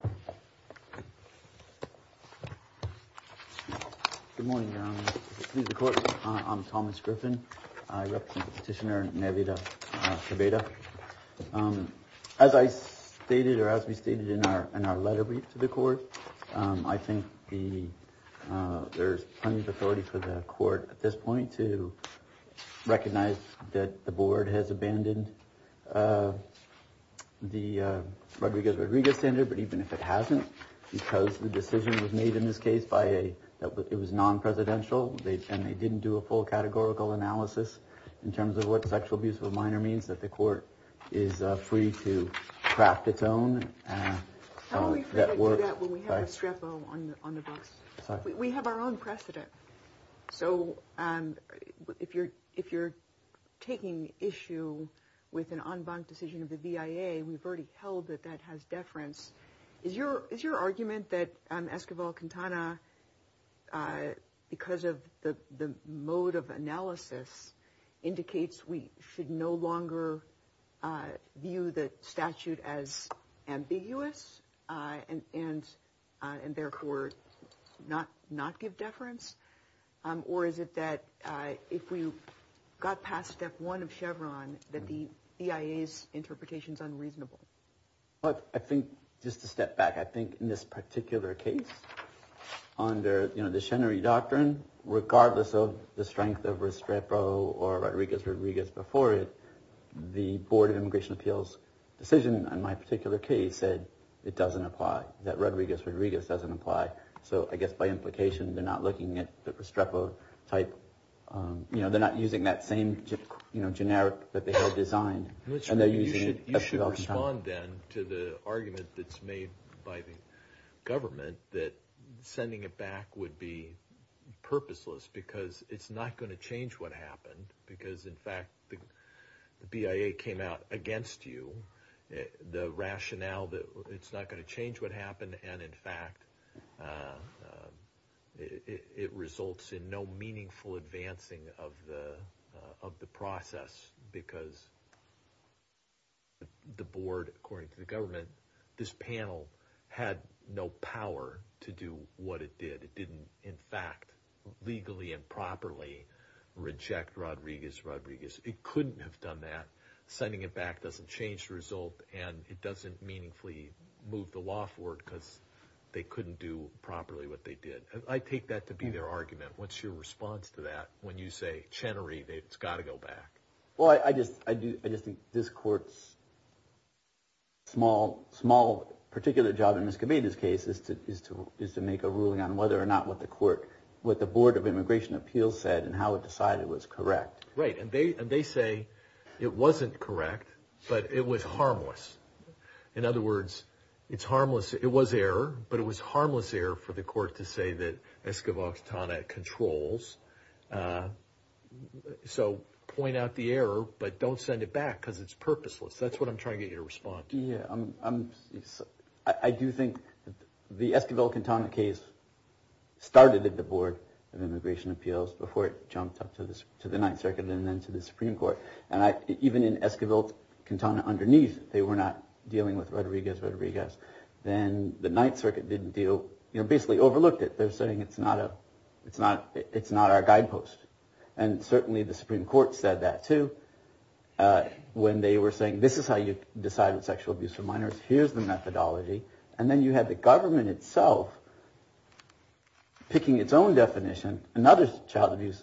Good morning. I'm Thomas Griffin. I represent Petitioner Nelida Quebeda. As I stated or as we stated in our letter brief to the court, I think there's plenty of authority for the court at this point to recognize that the board has abandoned the Rodriguez-Rodriguez standard, but even if it hasn't, because the decision was made in this case by a, it was non-presidential, and they didn't do a full categorical analysis in terms of what sexual abuse of a minor means, that the court is free to craft its own. How do we do that when we have a strepo on the books? We have our own precedent. So if you're taking issue with an en banc decision of the VIA, we've already held that that has deference. Is your argument that Esquivel-Quintana, because of the mode of analysis, indicates we should no longer view the statute as ambiguous and therefore not give deference? Or is it that if we got past step one of Chevron, that the VIA's interpretation is unreasonable? I think, just to step back, I think in this particular case, under the Chenery Doctrine, regardless of the strength of Restrepo or Rodriguez-Rodriguez before it, the Board of Immigration Appeals decision in my particular case said it doesn't apply, that Rodriguez-Rodriguez doesn't apply. So I guess by implication, they're not looking at the Restrepo type, you know, they're not using that same generic that they had designed, and they're using Esquivel-Quintana. So I would respond, then, to the argument that's made by the government that sending it back would be purposeless because it's not going to change what happened. Because in fact, the VIA came out against you, the rationale that it's not going to change what happened, and in fact, it results in no meaningful advancing of the process. Because the board, according to the government, this panel had no power to do what it did. It didn't, in fact, legally and properly reject Rodriguez-Rodriguez. It couldn't have done that. Sending it back doesn't change the result, and it doesn't meaningfully move the law forward because they couldn't do properly what they did. I take that to be their argument. What's your response to that when you say, Chenery, it's got to go back? Well, I just think this court's small, particular job in Ms. Gaveda's case is to make a ruling on whether or not what the board of immigration appeals said and how it decided was correct. Right, and they say it wasn't correct, but it was harmless. In other words, it was error, but it was harmless error for the court to say that Esquivel-Quintana controls. So point out the error, but don't send it back because it's purposeless. That's what I'm trying to get your response to. Yeah, I do think the Esquivel-Quintana case started at the board of immigration appeals before it jumped up to the Ninth Circuit and then to the Supreme Court. And even in Esquivel-Quintana underneath, they were not dealing with Rodriguez-Rodriguez. Then the Ninth Circuit basically overlooked it. They're saying it's not our guidepost. And certainly the Supreme Court said that, too, when they were saying, this is how you decide what sexual abuse for minors. Here's the methodology. And then you had the government itself picking its own definition, another child abuse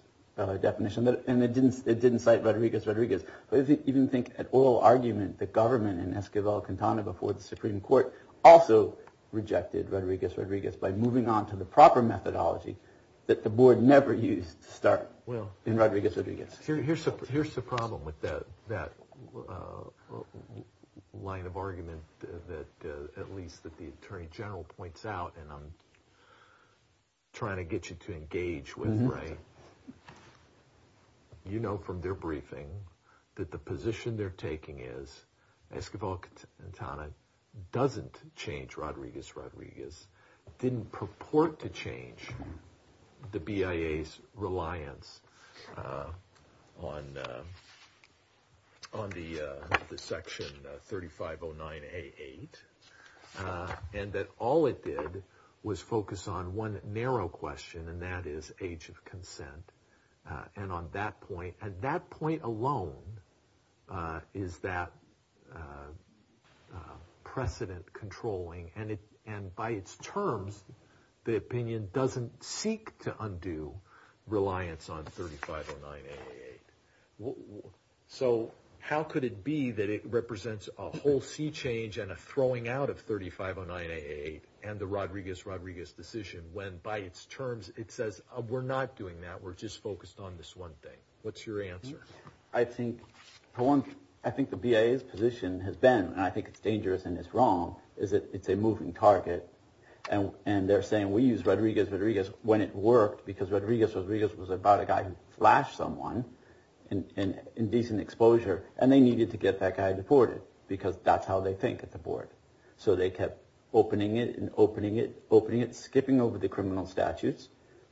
definition, and it didn't cite Rodriguez-Rodriguez. But if you even think at oral argument, the government in Esquivel-Quintana before the Supreme Court also rejected Rodriguez-Rodriguez by moving on to the proper methodology that the board never used to start in Rodriguez-Rodriguez. Here's the problem with that line of argument that at least that the attorney general points out and I'm trying to get you to engage with, right? You know from their briefing that the position they're taking is Esquivel-Quintana doesn't change Rodriguez-Rodriguez, didn't purport to change the BIA's reliance on the Section 3509A8. And that all it did was focus on one narrow question, and that is age of consent. And on that point, and that point alone is that precedent controlling. And by its terms, the opinion doesn't seek to undo reliance on 3509A8. So how could it be that it represents a whole sea change and a throwing out of 3509A8 and the Rodriguez-Rodriguez decision when by its terms it says we're not doing that, we're just focused on this one thing. What's your answer? I think the BIA's position has been, and I think it's dangerous and it's wrong, is that it's a moving target. And they're saying we use Rodriguez-Rodriguez when it worked because Rodriguez-Rodriguez was about a guy who flashed someone in decent exposure and they needed to get that guy deported because that's how they think at the board. So they kept opening it and opening it, skipping over the criminal statutes,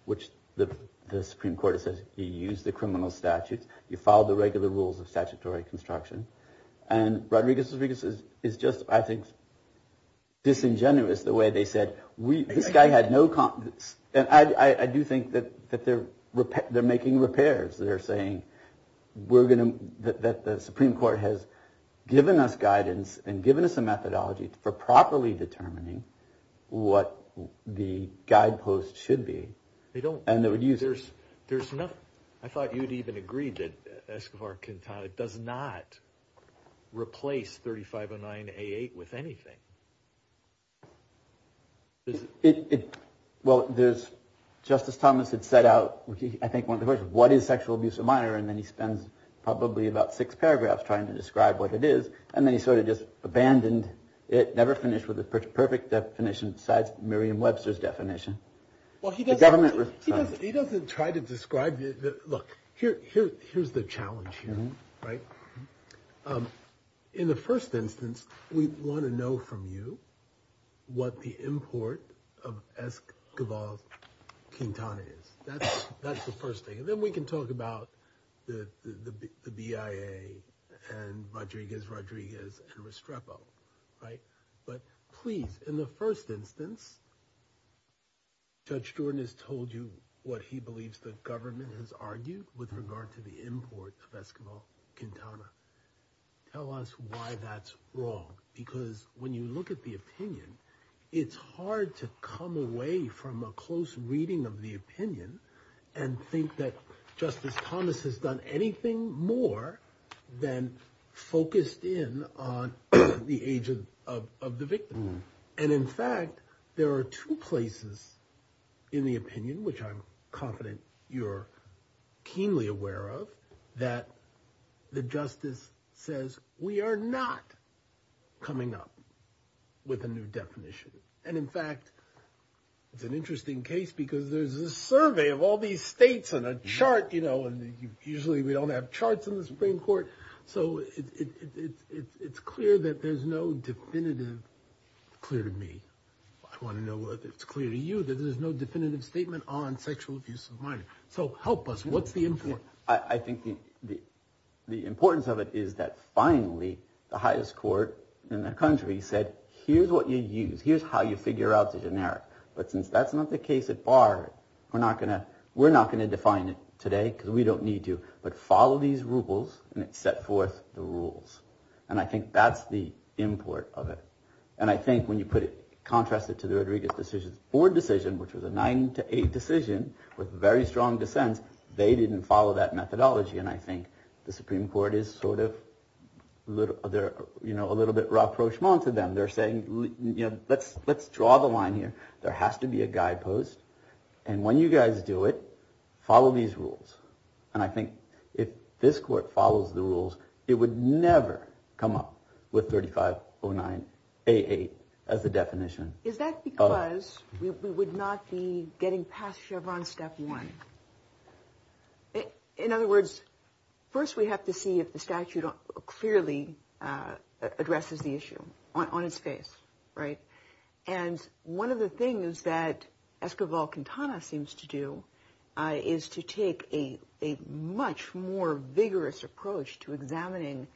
which the Supreme Court says you use the criminal statutes, you follow the regular rules of statutory construction. And Rodriguez-Rodriguez is just, I think, disingenuous the way they said this guy had no confidence. And I do think that they're making repairs. They're saying that the Supreme Court has given us guidance and given us a methodology for properly determining what the guideposts should be. I thought you'd even agree that Escobar-Quintana does not replace 3509A8 with anything. Well, Justice Thomas had set out, I think, one of the questions, what is sexual abuse of minor? And then he spends probably about six paragraphs trying to describe what it is. And then he sort of just abandoned it, never finished with a perfect definition besides Miriam Webster's definition. Well, he doesn't try to describe – look, here's the challenge here, right? In the first instance, we want to know from you what the import of Escobar-Quintana is. That's the first thing. Then we can talk about the BIA and Rodriguez-Rodriguez and Restrepo, right? But please, in the first instance, Judge Jordan has told you what he believes the government has argued with regard to the import of Escobar-Quintana. Tell us why that's wrong. Because when you look at the opinion, it's hard to come away from a close reading of the opinion and think that Justice Thomas has done anything more than focused in on the age of the victim. And in fact, there are two places in the opinion, which I'm confident you're keenly aware of, that the justice says we are not coming up with a new definition. And in fact, it's an interesting case because there's a survey of all these states and a chart, you know, and usually we don't have charts in the Supreme Court. So it's clear that there's no definitive – clear to me. I want to know whether it's clear to you that there's no definitive statement on sexual abuse of minors. So help us. What's the import? The importance of it is that finally, the highest court in the country said, here's what you use. Here's how you figure out the generic. But since that's not the case at bar, we're not going to define it today because we don't need to. But follow these rules and set forth the rules. And I think that's the import of it. And I think when you put it, contrast it to the Rodriguez board decision, which was a 9 to 8 decision with very strong dissents, they didn't follow that methodology. And I think the Supreme Court is sort of, you know, a little bit rapprochement to them. They're saying, you know, let's draw the line here. There has to be a guidepost. And when you guys do it, follow these rules. And I think if this court follows the rules, it would never come up with 3509A8 as the definition. Is that because we would not be getting past Chevron step one? In other words, first, we have to see if the statute clearly addresses the issue on its face. Right. And one of the things that Escobol-Quintana seems to do is to take a much more vigorous approach to examining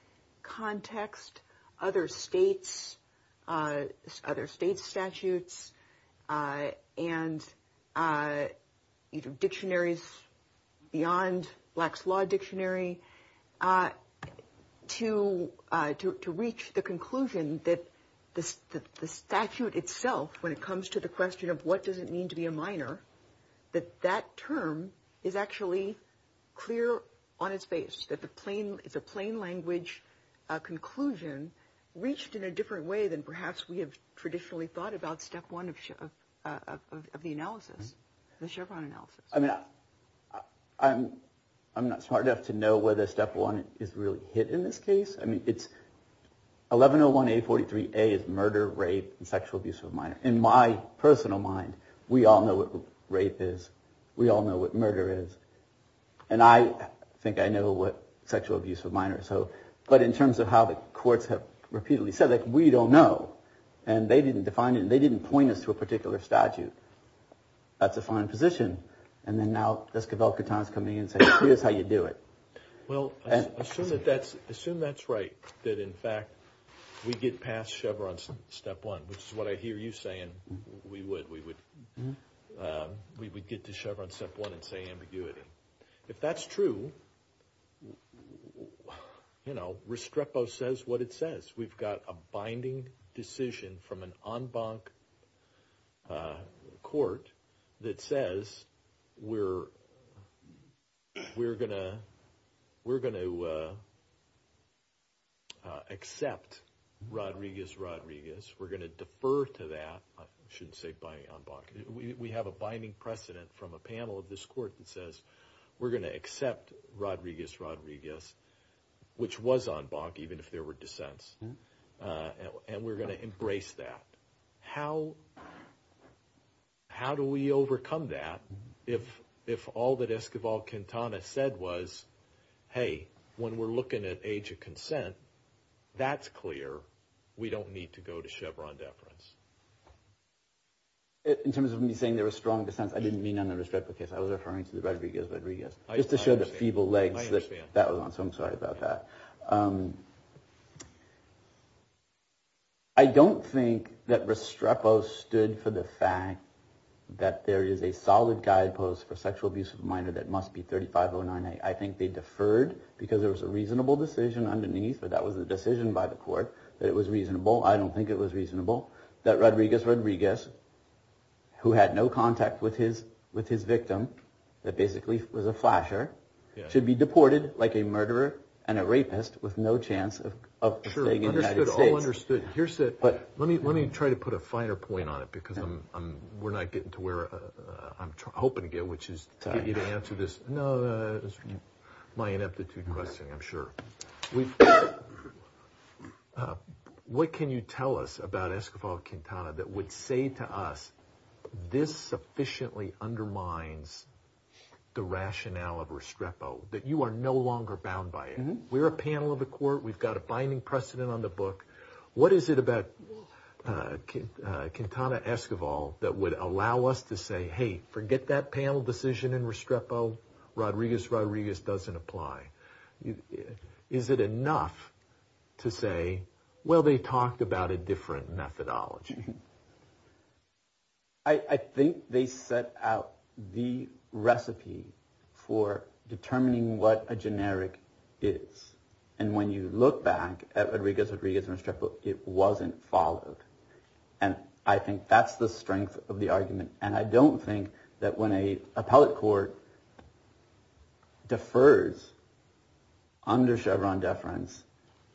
context. Other states, other state statutes and dictionaries beyond Black's Law Dictionary to reach the conclusion that the statute itself, when it comes to the question of what does it mean to be a minor, that that term is actually clear on its face. It's a plain language conclusion reached in a different way than perhaps we have traditionally thought about step one of the analysis, the Chevron analysis. I mean, I'm not smart enough to know whether step one is really hit in this case. I mean, it's 1101A43A is murder, rape, and sexual abuse of a minor. In my personal mind, we all know what rape is. We all know what murder is. And I think I know what sexual abuse of a minor is. But in terms of how the courts have repeatedly said, we don't know. And they didn't define it and they didn't point us to a particular statute. That's a fine position. And then now Escobol-Quintana is coming in and saying, here's how you do it. Well, assume that that's assume that's right, that in fact, we get past Chevron step one, which is what I hear you saying. We would we would we would get to Chevron step one and say ambiguity. If that's true, you know, Restrepo says what it says. We've got a binding decision from an en banc court that says we're we're going to we're going to accept Rodriguez, Rodriguez. We're going to defer to that. I shouldn't say by en banc. We have a binding precedent from a panel of this court that says we're going to accept Rodriguez, Rodriguez, which was en banc, even if there were dissents. And we're going to embrace that. How how do we overcome that if if all that Escobol-Quintana said was, hey, when we're looking at age of consent, that's clear. We don't need to go to Chevron deference. In terms of me saying there were strong dissents, I didn't mean on the Restrepo case, I was referring to the Rodriguez, Rodriguez, just to show the feeble legs that that was on. So I'm sorry about that. I don't think that Restrepo stood for the fact that there is a solid guidepost for sexual abuse of a minor that must be thirty five or nine. I think they deferred because there was a reasonable decision underneath. But that was the decision by the court that it was reasonable. I don't think it was reasonable that Rodriguez, Rodriguez, who had no contact with his with his victim, that basically was a flasher, should be deported like a murderer and a rapist with no chance of sure. But let me let me try to put a finer point on it because I'm we're not getting to where I'm hoping to get, which is to answer this. No, that is my ineptitude question. I'm sure we've. What can you tell us about Esquivel Quintana that would say to us this sufficiently undermines the rationale of Restrepo that you are no longer bound by it? We're a panel of the court. We've got a binding precedent on the book. What is it about Quintana Esquivel that would allow us to say, hey, forget that panel decision in Restrepo. Rodriguez, Rodriguez doesn't apply. Is it enough to say, well, they talked about a different methodology? I think they set out the recipe for determining what a generic is. And when you look back at Rodriguez, Rodriguez and Restrepo, it wasn't followed. And I think that's the strength of the argument. And I don't think that when a appellate court defers under Chevron deference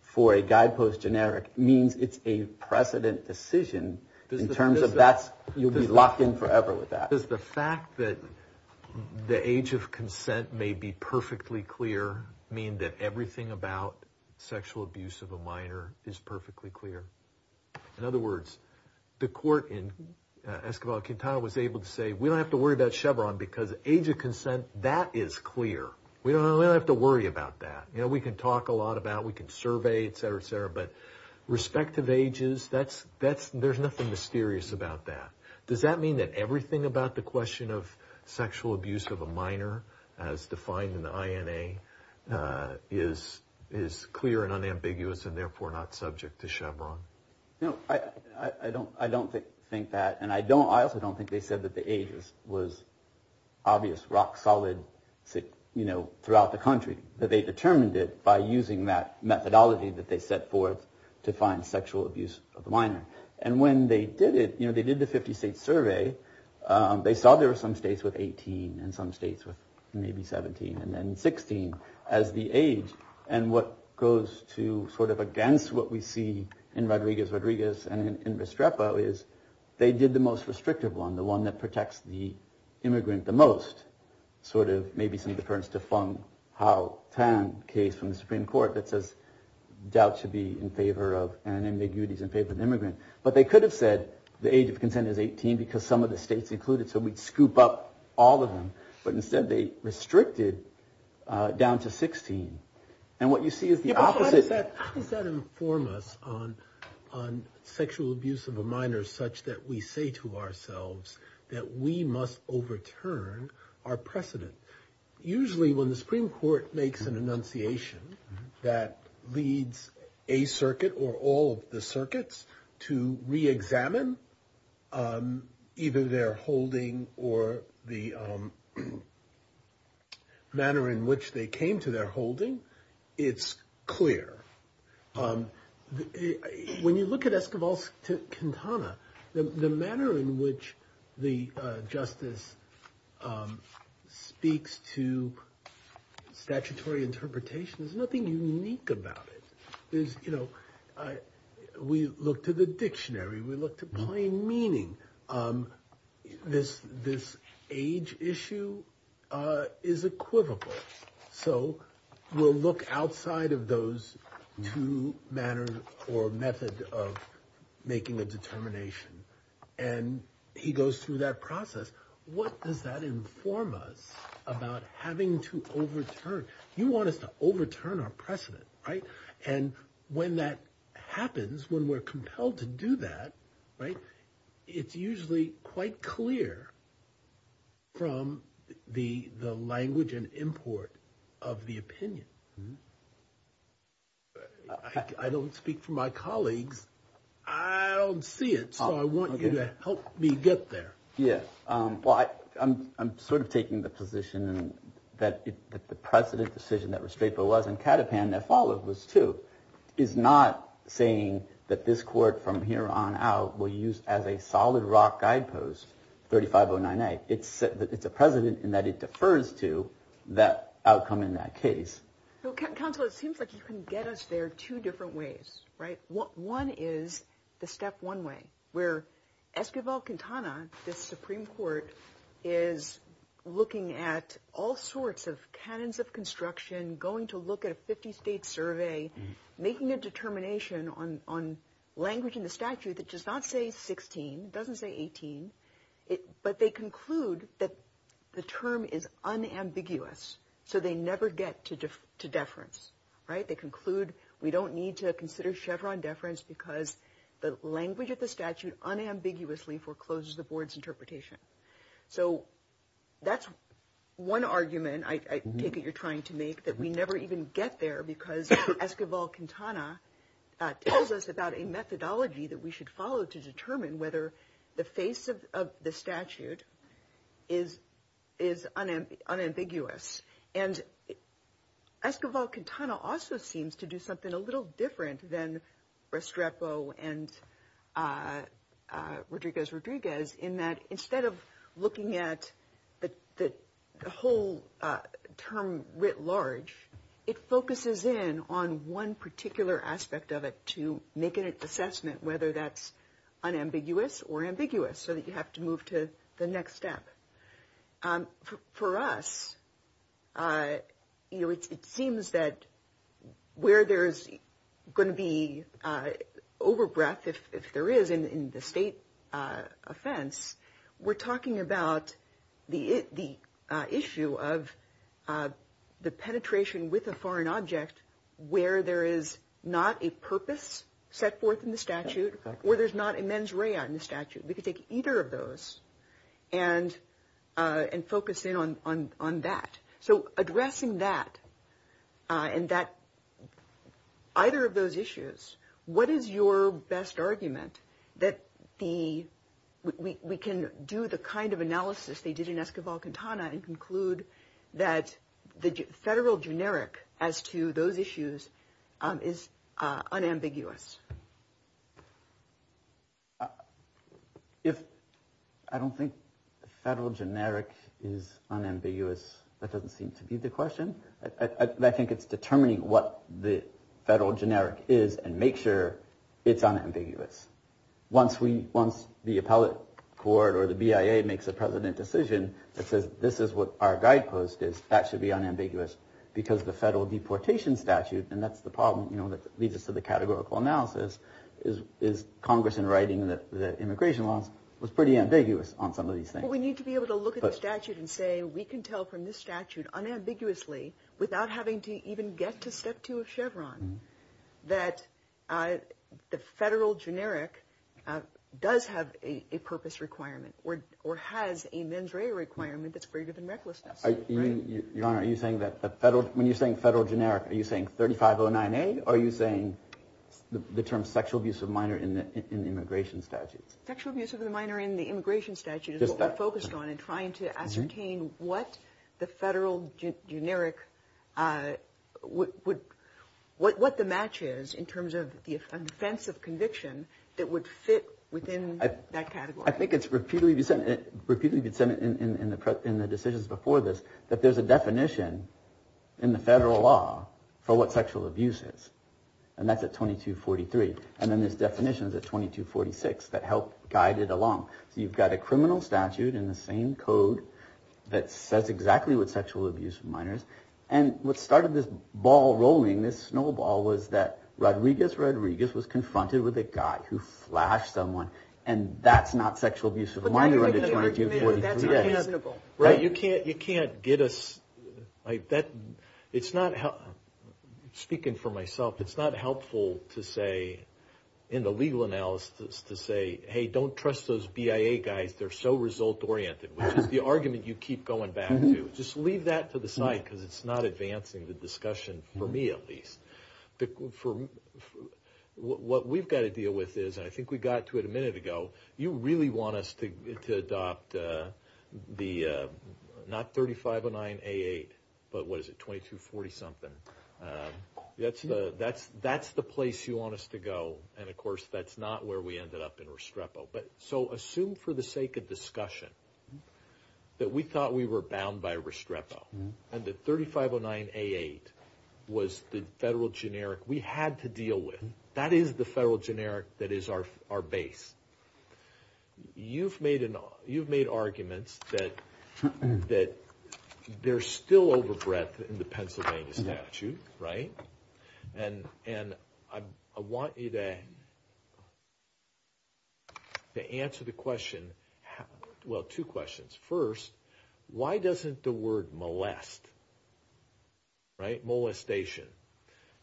for a guidepost generic means it's a precedent decision. In terms of that, you'll be locked in forever with that. Does the fact that the age of consent may be perfectly clear mean that everything about sexual abuse of a minor is perfectly clear? In other words, the court in Esquivel Quintana was able to say we don't have to worry about Chevron because age of consent, that is clear. We don't have to worry about that. We can talk a lot about, we can survey, et cetera, et cetera. But respective ages, there's nothing mysterious about that. Does that mean that everything about the question of sexual abuse of a minor as defined in the INA is clear and unambiguous and therefore not subject to Chevron? No, I don't think that. And I also don't think they said that the age was obvious, rock solid throughout the country, that they determined it by using that methodology that they set forth to find sexual abuse of the minor. And when they did it, they did the 50-state survey. They saw there were some states with 18 and some states with maybe 17 and then 16 as the age. And what goes to sort of against what we see in Rodriguez-Rodriguez and in Restrepo is they did the most restrictive one, the one that protects the immigrant the most. Maybe some deference to Feng Hao Tan case from the Supreme Court that says doubt should be in favor of and ambiguities in favor of the immigrant. But they could have said the age of consent is 18 because some of the states included. So we'd scoop up all of them. But instead they restricted down to 16. And what you see is the opposite. How does that inform us on sexual abuse of a minor such that we say to ourselves that we must overturn our precedent? Usually when the Supreme Court makes an enunciation that leads a circuit or all of the circuits to reexamine either their holding or the manner in which they came to their holding, it's clear. When you look at Esquivel's Quintana, the manner in which the justice speaks to statutory interpretation, there's nothing unique about it. There's, you know, we look to the dictionary, we look to plain meaning. This this age issue is equivocal. So we'll look outside of those two manners or method of making a determination. And he goes through that process. What does that inform us about having to overturn? You want us to overturn our precedent, right? And when that happens, when we're compelled to do that, right, it's usually quite clear from the the language and import of the opinion. I don't speak for my colleagues. I don't see it. So I want you to help me get there. Yes. Well, I'm I'm sort of taking the position that the precedent decision that Restrepo was in Catapan that followed was to is not saying that this court from here on out will use as a solid rock guidepost. It's it's a precedent in that it defers to that outcome in that case. Counselor, it seems like you can get us there two different ways. Right. What one is the step one way where Esquivel Quintana, the Supreme Court, is looking at all sorts of cannons of construction, going to look at a 50 state survey, making a determination on on language in the statute that does not say 16. It doesn't say 18. But they conclude that the term is unambiguous. So they never get to deference. Right. They conclude we don't need to consider Chevron deference because the language of the statute unambiguously forecloses the board's interpretation. So that's one argument. I think you're trying to make that we never even get there because Esquivel Quintana tells us about a methodology that we should follow to determine whether the face of the statute is is unambiguous. And Esquivel Quintana also seems to do something a little different than Restrepo and Rodriguez Rodriguez in that instead of looking at the whole term writ large, it focuses in on one particular aspect of it to make an assessment, whether that's unambiguous or ambiguous so that you have to move to the next step. For us, you know, it seems that where there is going to be over breath, if there is in the state offense, we're talking about the the issue of the penetration with a foreign object where there is not a purpose set forth in the statute, where there's not a mens rea in the statute. We could take either of those and and focus in on on on that. So addressing that and that either of those issues. What is your best argument that the we can do the kind of analysis they did in Esquivel Quintana and conclude that the federal generic as to those issues is unambiguous? If I don't think the federal generic is unambiguous, that doesn't seem to be the question. I think it's determining what the federal generic is and make sure it's unambiguous. Once we once the appellate court or the BIA makes a president decision that says this is what our guidepost is, that should be unambiguous because the federal deportation statute. And that's the problem that leads us to the categorical analysis is is Congress in writing that immigration laws was pretty ambiguous on some of these things. So we need to be able to look at the statute and say we can tell from this statute unambiguously without having to even get to step two of Chevron that the federal generic does have a purpose requirement or or has a mens rea requirement that's greater than recklessness. Your Honor, are you saying that the federal when you're saying federal generic, are you saying thirty five oh nine eight? Are you saying the term sexual abuse of minor in the immigration statute? Sexual abuse of the minor in the immigration statute is focused on and trying to ascertain what the federal generic would what the matches in terms of the offensive conviction that would fit within that category. I think it's repeatedly said in the decisions before this that there's a definition in the federal law for what sexual abuse is. And that's at 2243. And then there's definitions at 2246 that help guide it along. So you've got a criminal statute in the same code that says exactly what sexual abuse of minors. And what started this ball rolling, this snowball was that Rodriguez, Rodriguez was confronted with a guy who flashed someone and that's not sexual abuse of a minor under 2243. Right. You can't you can't get us like that. It's not speaking for myself. It's not helpful to say in the legal analysis to say, hey, don't trust those BIA guys. They're so result oriented, which is the argument you keep going back to. Just leave that to the side because it's not advancing the discussion for me at least. For what we've got to deal with is I think we got to it a minute ago. You really want us to adopt the not thirty five or nine eight. But what is it? Twenty two. Forty something. That's the that's that's the place you want us to go. And of course, that's not where we ended up in Restrepo. But so assume for the sake of discussion that we thought we were bound by Restrepo and the thirty five or nine eight was the federal generic we had to deal with. That is the federal generic. That is our our base. You've made an you've made arguments that that they're still over breadth in the Pennsylvania statute. Right. And and I want you to answer the question. Well, two questions. First, why doesn't the word molest. Right. Molestation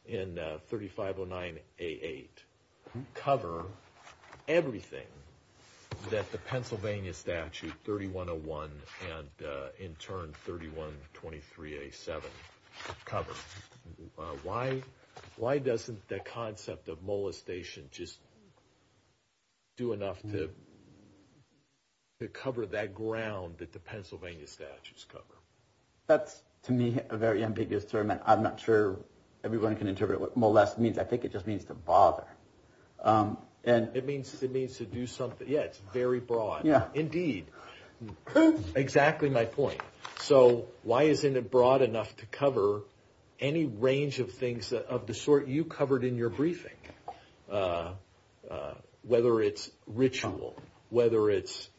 in thirty five or nine eight eight cover everything that the Pennsylvania statute thirty one oh one and in turn thirty one. Twenty three a seven cover. Why? Why doesn't the concept of molestation just. Do enough to cover that ground that the Pennsylvania statutes cover. That's to me a very ambiguous term, and I'm not sure everyone can interpret what molest means. I think it just means to bother. And it means it means to do something. Yeah, it's very broad. Yeah, indeed. Exactly my point. So why isn't it broad enough to cover any range of things of the sort you covered in your briefing, whether it's ritual, whether it's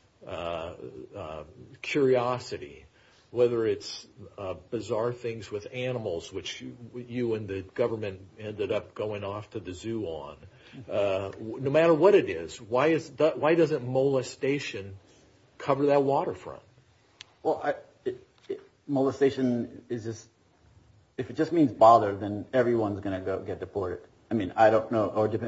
curiosity, whether it's bizarre things with animals, which you and the government ended up going off to the zoo on no matter what it is. Why is that? Why doesn't molestation cover that waterfront? Well, molestation is just if it just means bother, then everyone's going to get deported. I mean, I don't know.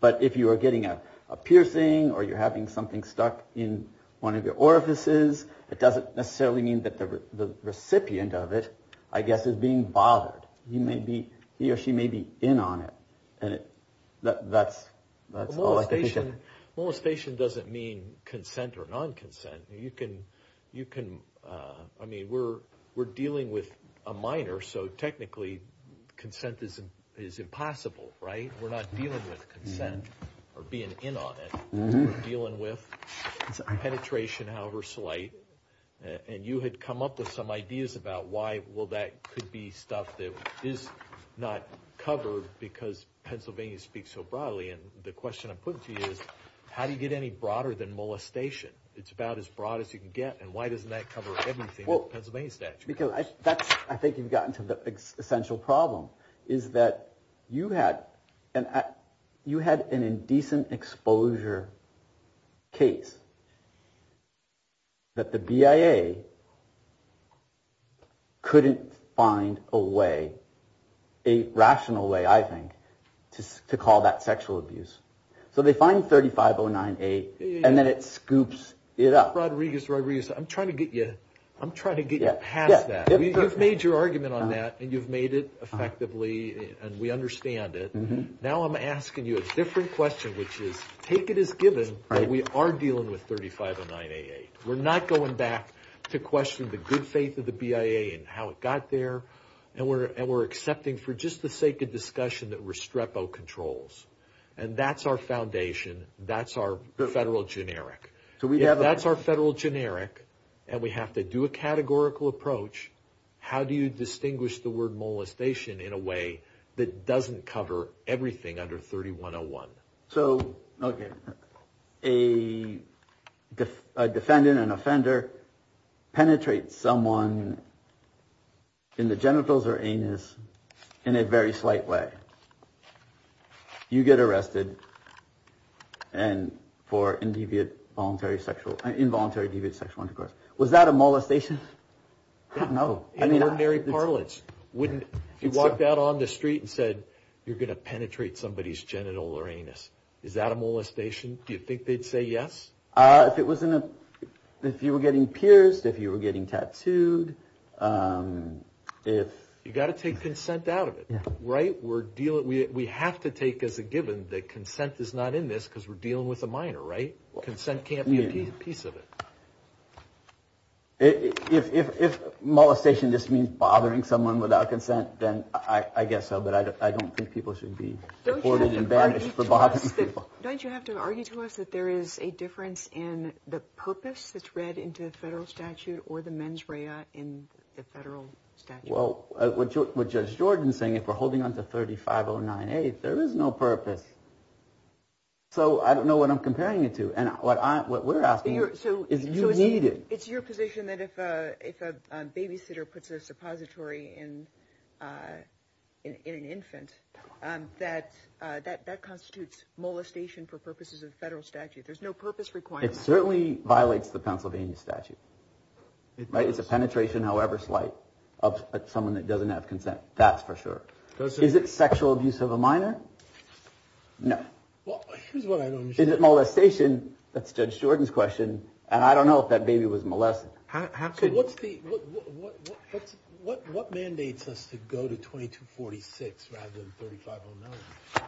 But if you are getting a piercing or you're having something stuck in one of your orifices, it doesn't necessarily mean that the recipient of it, I guess, is being bothered. You may be he or she may be in on it. And that's that's molestation. And molestation doesn't mean consent or non-consent. You can you can. I mean, we're we're dealing with a minor. So technically consent is is impossible. Right. We're not dealing with consent or being in on it. Dealing with penetration, however slight. And you had come up with some ideas about why. Well, that could be stuff that is not covered because Pennsylvania speaks so broadly. And the question I'm putting to you is, how do you get any broader than molestation? It's about as broad as you can get. And why doesn't that cover everything? Well, that's because I think you've gotten to the essential problem is that you had and you had an indecent exposure case. That the BIA couldn't find a way, a rational way, I think, to call that sexual abuse. So they find thirty five or nine eight and then it scoops it up. Rodriguez, Rodriguez, I'm trying to get you. I'm trying to get you past that. You've made your argument on that and you've made it effectively and we understand it. Now I'm asking you a different question, which is take it as given that we are dealing with thirty five or nine eight. We're not going back to question the good faith of the BIA and how it got there. And we're and we're accepting for just the sake of discussion that Restrepo controls. And that's our foundation. That's our federal generic. So we have that's our federal generic and we have to do a categorical approach. How do you distinguish the word molestation in a way that doesn't cover everything under 3101? So, OK, a defendant, an offender penetrates someone in the genitals or anus in a very slight way. You get arrested and for individual voluntary sexual involuntary sexual intercourse. Was that a molestation? No, I mean, ordinary parlance wouldn't. You walked out on the street and said you're going to penetrate somebody's genital or anus. Is that a molestation? Do you think they'd say yes? If it wasn't if you were getting pierced, if you were getting tattooed, if you got to take consent out of it. Right. We're dealing. We have to take as a given that consent is not in this because we're dealing with a minor. Right. Well, consent can't be a piece of it. If molestation just means bothering someone without consent, then I guess so. But I don't think people should be reported and banished for bothering people. Don't you have to argue to us that there is a difference in the purpose that's read into the federal statute or the mens rea in the federal statute? Well, with Judge Jordan saying if we're holding on to thirty five or nine, eight, there is no purpose. So I don't know what I'm comparing it to. And what I what we're asking you to do is you need it. It's your position that if a if a babysitter puts a suppository in an infant that that that constitutes molestation for purposes of federal statute. There's no purpose required. It certainly violates the Pennsylvania statute. Right. It's a penetration, however, slight of someone that doesn't have consent. That's for sure. Is it sexual abuse of a minor? No. Well, here's what I know. Is it molestation? That's Judge Jordan's question. And I don't know if that baby was molested. So what's the what? What mandates us to go to twenty to forty six rather than thirty five or nine?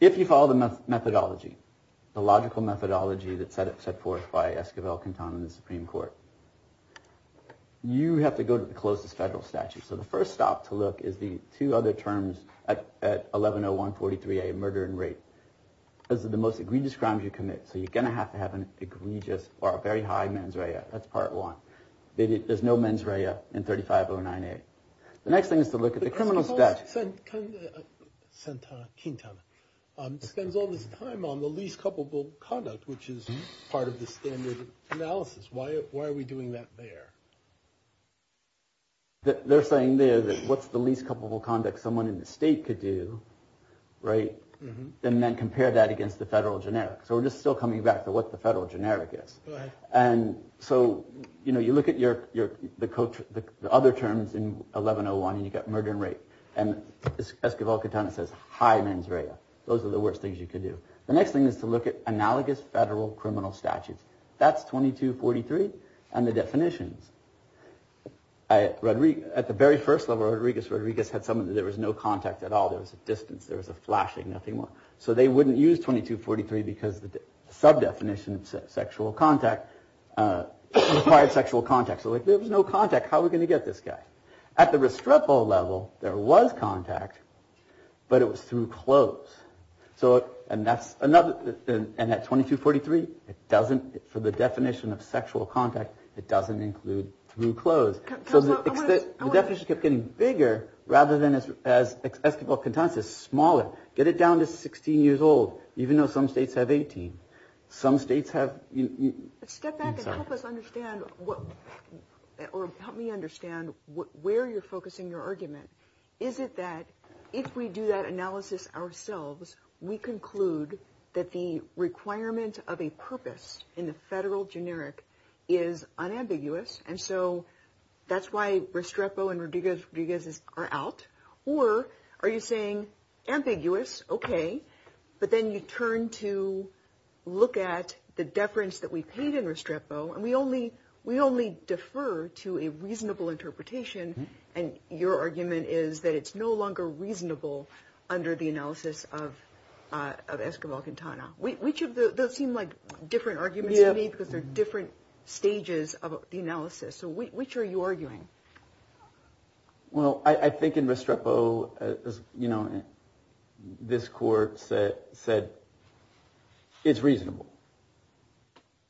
If you follow the methodology, the logical methodology that set it set forth by Esquivel, Quintana, the Supreme Court, you have to go to the closest federal statute. So the first stop to look is the two other terms at eleven oh one forty three a murder and rape. This is the most egregious crimes you commit. So you're going to have to have an egregious or a very high mens rea. That's part one. There's no mens rea in thirty five or nine. The next thing is to look at the criminals that sent sent Quintana spends all this time on the least culpable conduct, which is part of the standard analysis. Why? Why are we doing that there? That they're saying there that what's the least culpable conduct someone in the state could do. Right. And then compare that against the federal generic. So we're just still coming back to what the federal generic is. And so, you know, you look at your your the coach, the other terms in eleven oh one and you get murder and rape. And Esquivel, Quintana says high mens rea. Those are the worst things you could do. The next thing is to look at analogous federal criminal statutes. That's twenty to forty three. And the definitions I read at the very first level, Rodriguez, Rodriguez had someone. There was no contact at all. There was a distance, there was a flashing, nothing more. So they wouldn't use twenty to forty three because the sub definition of sexual contact required sexual contact. So if there was no contact, how are we going to get this guy at the restructural level? There was contact, but it was through clothes. So and that's another. And at twenty to forty three, it doesn't. For the definition of sexual contact, it doesn't include through clothes. So the definition kept getting bigger rather than as Esquivel, Quintana says smaller. Get it down to 16 years old, even though some states have 18. Some states have. Step back and help us understand what or help me understand where you're focusing your argument. Is it that if we do that analysis ourselves, we conclude that the requirement of a purpose in the federal generic is unambiguous? And so that's why Restrepo and Rodriguez are out. Or are you saying ambiguous? OK, but then you turn to look at the deference that we paid in Restrepo and we only we only defer to a reasonable interpretation. And your argument is that it's no longer reasonable under the analysis of Esquivel Quintana. Which of those seem like different arguments to me because they're different stages of the analysis. So which are you arguing? Well, I think in Restrepo, you know, this court said it's reasonable.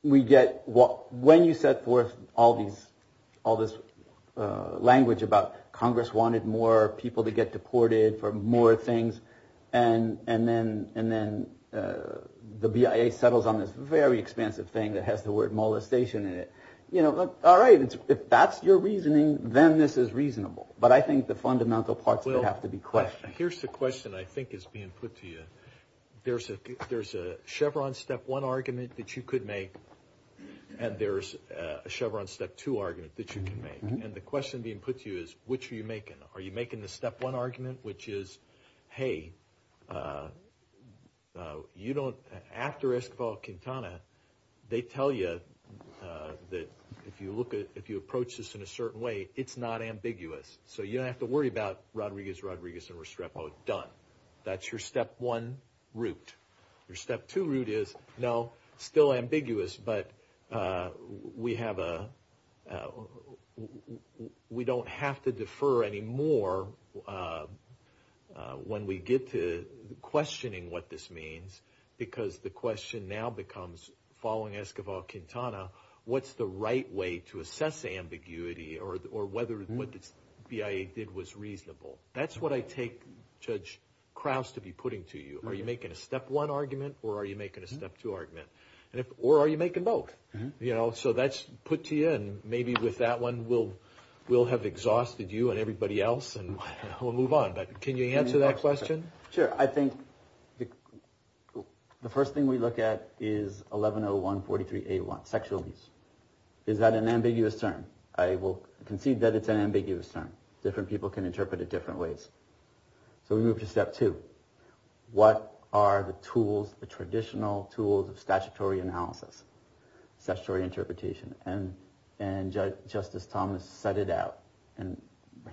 We get what when you set forth all these all this language about Congress wanted more people to get deported for more things. And and then and then the BIA settles on this very expansive thing that has the word molestation in it. You know. All right. If that's your reasoning, then this is reasonable. But I think the fundamental parts will have to be correct. Here's the question I think is being put to you. There's a there's a Chevron step one argument that you could make. And there's a Chevron step two argument that you can make. And the question being put to you is, which are you making? Are you making the step one argument, which is, hey, you don't. After Esquivel Quintana, they tell you that if you look at if you approach this in a certain way, it's not ambiguous. So you don't have to worry about Rodriguez, Rodriguez and Restrepo. Done. That's your step one route. Your step two route is no, still ambiguous. But we have a we don't have to defer any more when we get to questioning what this means, because the question now becomes following Esquivel Quintana. What's the right way to assess ambiguity or or whether what the BIA did was reasonable? That's what I take Judge Krauss to be putting to you. Are you making a step one argument or are you making a step two argument? Or are you making both? You know, so that's put to you. And maybe with that one, we'll we'll have exhausted you and everybody else and we'll move on. But can you answer that question? Sure. I think the first thing we look at is eleven oh one forty three eight one sexual abuse. Is that an ambiguous term? I will concede that it's an ambiguous term. Different people can interpret it different ways. So we move to step two. What are the tools, the traditional tools of statutory analysis, statutory interpretation? And and Justice Thomas set it out and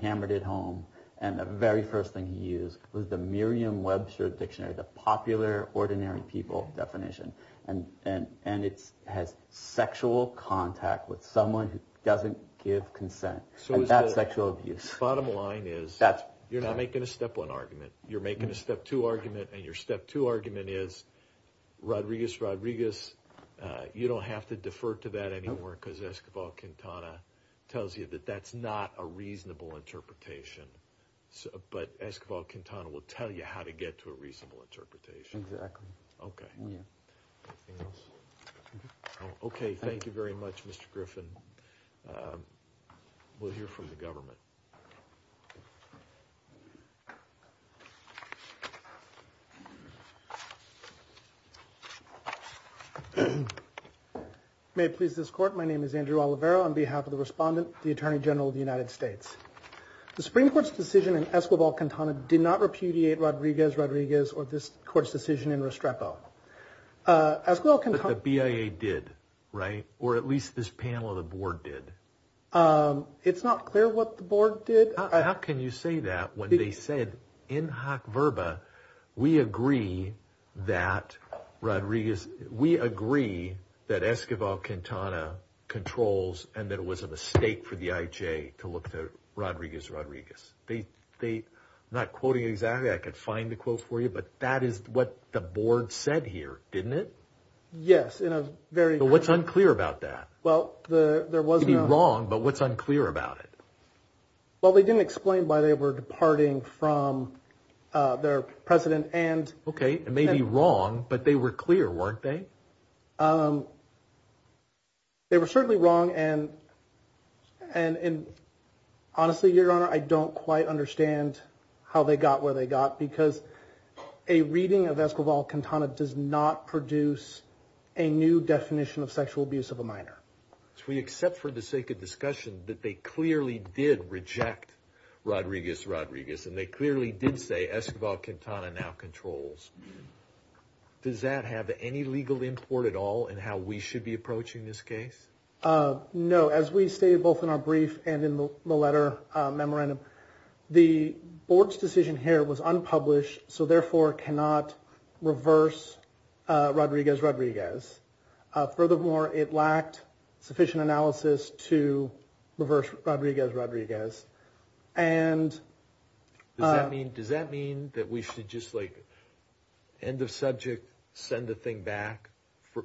hammered it home. And the very first thing he used was the Merriam-Webster dictionary, the popular ordinary people definition. And and and it's has sexual contact with someone who doesn't give consent. So that's sexual abuse. Bottom line is that you're not making a step one argument. You're making a step two argument and your step two argument is Rodriguez, Rodriguez. You don't have to defer to that anymore because Escobar Cantona tells you that that's not a reasonable interpretation. But Escobar Cantona will tell you how to get to a reasonable interpretation. Exactly. OK. Yeah. OK. Thank you very much, Mr. Griffin. We'll hear from the government. May it please this court. My name is Andrew Olivero on behalf of the respondent, the attorney general of the United States. The Supreme Court's decision in Escobar Cantona did not repudiate Rodriguez, Rodriguez or this court's decision in Restrepo. As well, the BIA did. Right. Or at least this panel of the board did. It's not clear what the board did. How can you say that? When they said in Hock Verba, we agree that Rodriguez, we agree that Escobar Cantona controls and that it was a mistake for the IJ to look to Rodriguez, Rodriguez. They they not quoting exactly. I could find the quotes for you, but that is what the board said here, didn't it? Yes. In a very. What's unclear about that? Well, there was wrong, but what's unclear about it? Well, they didn't explain why they were departing from their president and. OK, maybe wrong, but they were clear, weren't they? They were certainly wrong. And and honestly, your honor, I don't quite understand how they got where they got, because a reading of Escobar Cantona does not produce a new definition of sexual abuse of a minor. We accept for the sake of discussion that they clearly did reject Rodriguez, Rodriguez, and they clearly did say Escobar Cantona now controls. Does that have any legal import at all in how we should be approaching this case? No. As we say, both in our brief and in the letter memorandum, the board's decision here was unpublished. So therefore cannot reverse Rodriguez, Rodriguez. Furthermore, it lacked sufficient analysis to reverse Rodriguez, Rodriguez. And I mean, does that mean that we should just like end of subject, send the thing back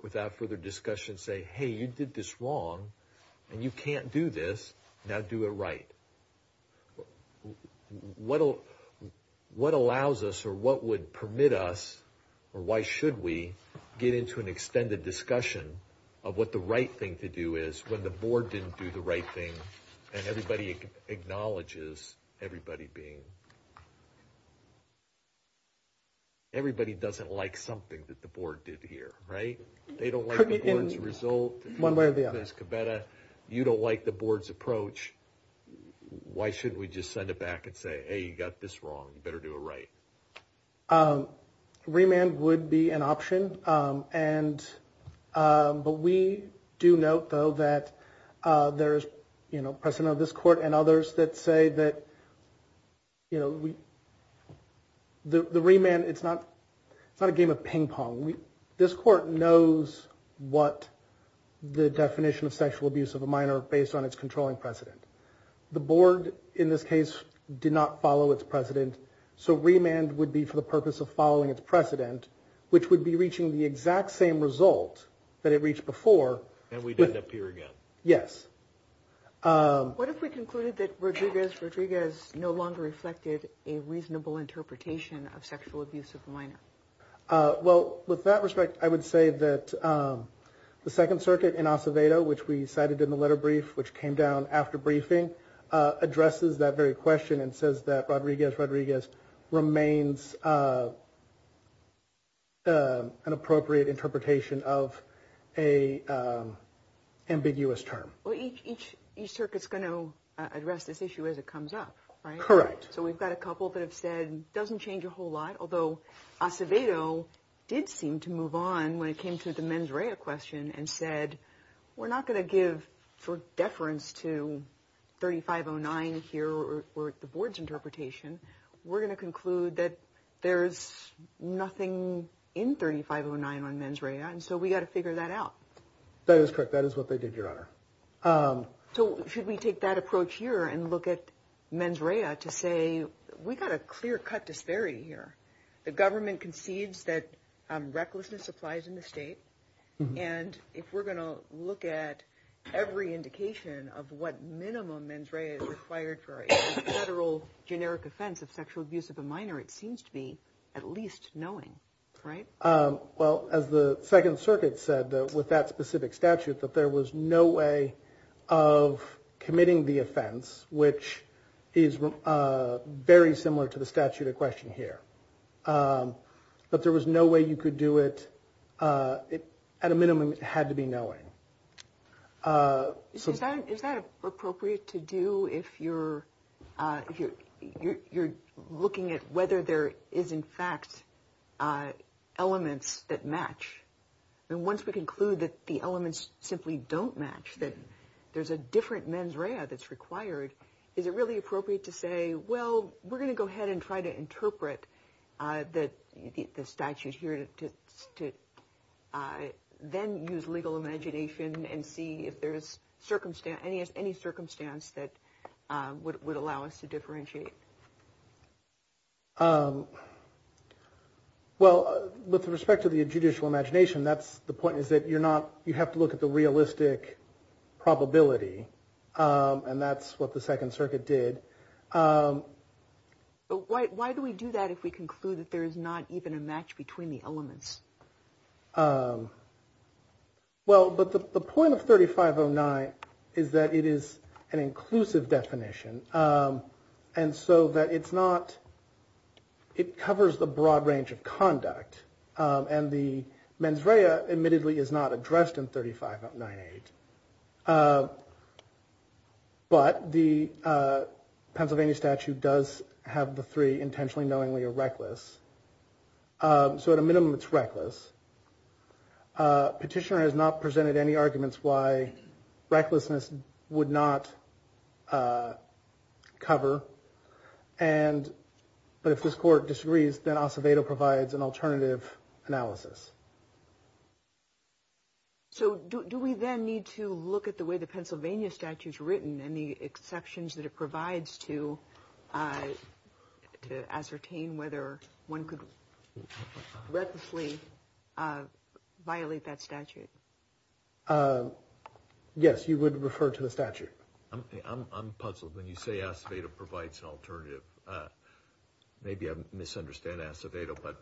without further discussion? Say, hey, you did this wrong and you can't do this. Now do it right. What what allows us or what would permit us or why should we get into an extended discussion of what the right thing to do is when the board didn't do the right thing? And everybody acknowledges everybody being. Everybody doesn't like something that the board did here. Right. They don't like the board's result. One way or the other. You don't like the board's approach. Why shouldn't we just send it back and say, hey, you got this wrong. You better do it right. Remand would be an option. And but we do note, though, that there is, you know, president of this court and others that say that, you know, the remand, it's not it's not a game of ping pong. We this court knows what the definition of sexual abuse of a minor based on its controlling precedent. The board, in this case, did not follow its precedent. So remand would be for the purpose of following its precedent, which would be reaching the exact same result that it reached before. And we'd end up here again. Yes. What if we concluded that Rodriguez, Rodriguez no longer reflected a reasonable interpretation of sexual abuse of a minor? Well, with that respect, I would say that the Second Circuit in Acevedo, which we cited in the letter brief, which came down after briefing, addresses that very question and says that Rodriguez, Rodriguez remains. An appropriate interpretation of a ambiguous term. Well, each each each circuit is going to address this issue as it comes up. Right. Correct. So we've got a couple that have said doesn't change a whole lot, although Acevedo did seem to move on when it came to the mens rea question and said, we're not going to give for deference to thirty five or nine here or the board's interpretation. We're going to conclude that there is nothing in thirty five or nine on mens rea. And so we got to figure that out. That is correct. That is what they did, Your Honor. So should we take that approach here and look at mens rea to say we've got a clear cut disparity here. The government concedes that recklessness applies in the state. And if we're going to look at every indication of what minimum mens rea is required for a federal generic offense of sexual abuse of a minor, it seems to be at least knowing. Right. Well, as the Second Circuit said with that specific statute, that there was no way of committing the offense, which is very similar to the statute of question here. But there was no way you could do it. At a minimum, it had to be knowing. So is that is that appropriate to do if you're if you're looking at whether there is, in fact, elements that match? And once we conclude that the elements simply don't match, that there's a different mens rea that's required. Is it really appropriate to say, well, we're going to go ahead and try to interpret that. The statute here to to then use legal imagination and see if there is circumstance any as any circumstance that would allow us to differentiate. Well, with respect to the judicial imagination, that's the point is that you're not you have to look at the realistic probability. And that's what the Second Circuit did. But why do we do that if we conclude that there is not even a match between the elements? Well, but the point of thirty five or nine is that it is an inclusive definition. And so that it's not. It covers the broad range of conduct. And the mens rea admittedly is not addressed in thirty five nine eight. But the Pennsylvania statute does have the three intentionally, knowingly or reckless. So at a minimum, it's reckless. Petitioner has not presented any arguments why recklessness would not cover. And but if this court disagrees, then Acevedo provides an alternative analysis. So do we then need to look at the way the Pennsylvania statute is written and the exceptions that it provides to to ascertain whether one could recklessly violate that statute? Yes, you would refer to the statute. I'm puzzled when you say Acevedo provides an alternative. Maybe I misunderstand Acevedo, but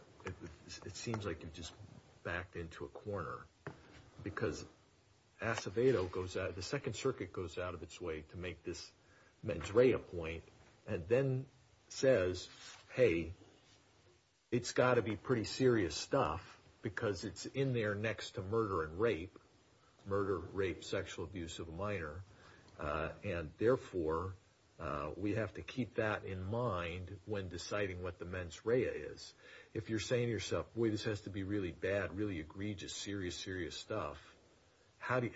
it seems like you just backed into a corner because Acevedo goes out. The second circuit goes out of its way to make this mens rea point and then says, hey, it's got to be pretty serious stuff because it's in there next to murder and rape, murder, rape, sexual abuse of a minor. And therefore, we have to keep that in mind when deciding what the mens rea is. If you're saying to yourself, boy, this has to be really bad, really egregious, serious, serious stuff. How do you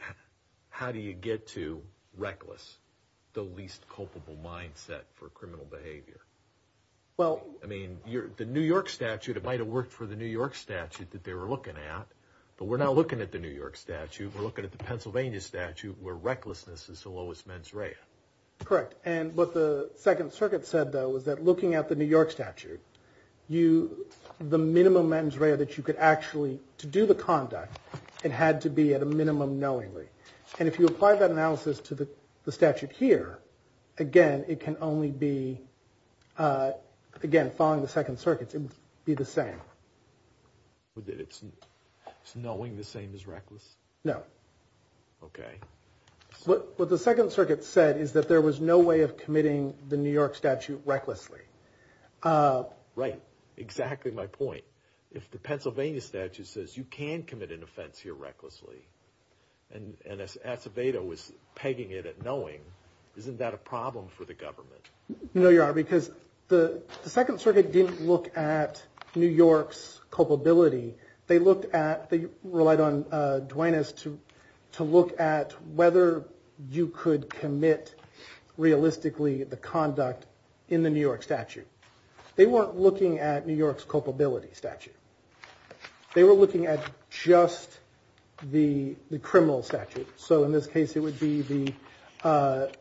how do you get to reckless the least culpable mindset for criminal behavior? Well, I mean, you're the New York statute. It might have worked for the New York statute that they were looking at. But we're not looking at the New York statute. We're looking at the Pennsylvania statute where recklessness is the lowest mens rea. Correct. And what the Second Circuit said, though, was that looking at the New York statute, you the minimum mens rea that you could actually to do the conduct. It had to be at a minimum knowingly. And if you apply that analysis to the statute here again, it can only be again following the Second Circuit to be the same. It's knowing the same as reckless? No. OK. What the Second Circuit said is that there was no way of committing the New York statute recklessly. Right. Exactly my point. If the Pennsylvania statute says you can commit an offense here recklessly and as Acevedo was pegging it at knowing, isn't that a problem for the government? No, you are, because the Second Circuit didn't look at New York's culpability. They looked at the relied on Duenas to to look at whether you could commit realistically the conduct in the New York statute. They weren't looking at New York's culpability statute. They were looking at just the criminal statute. So in this case, it would be the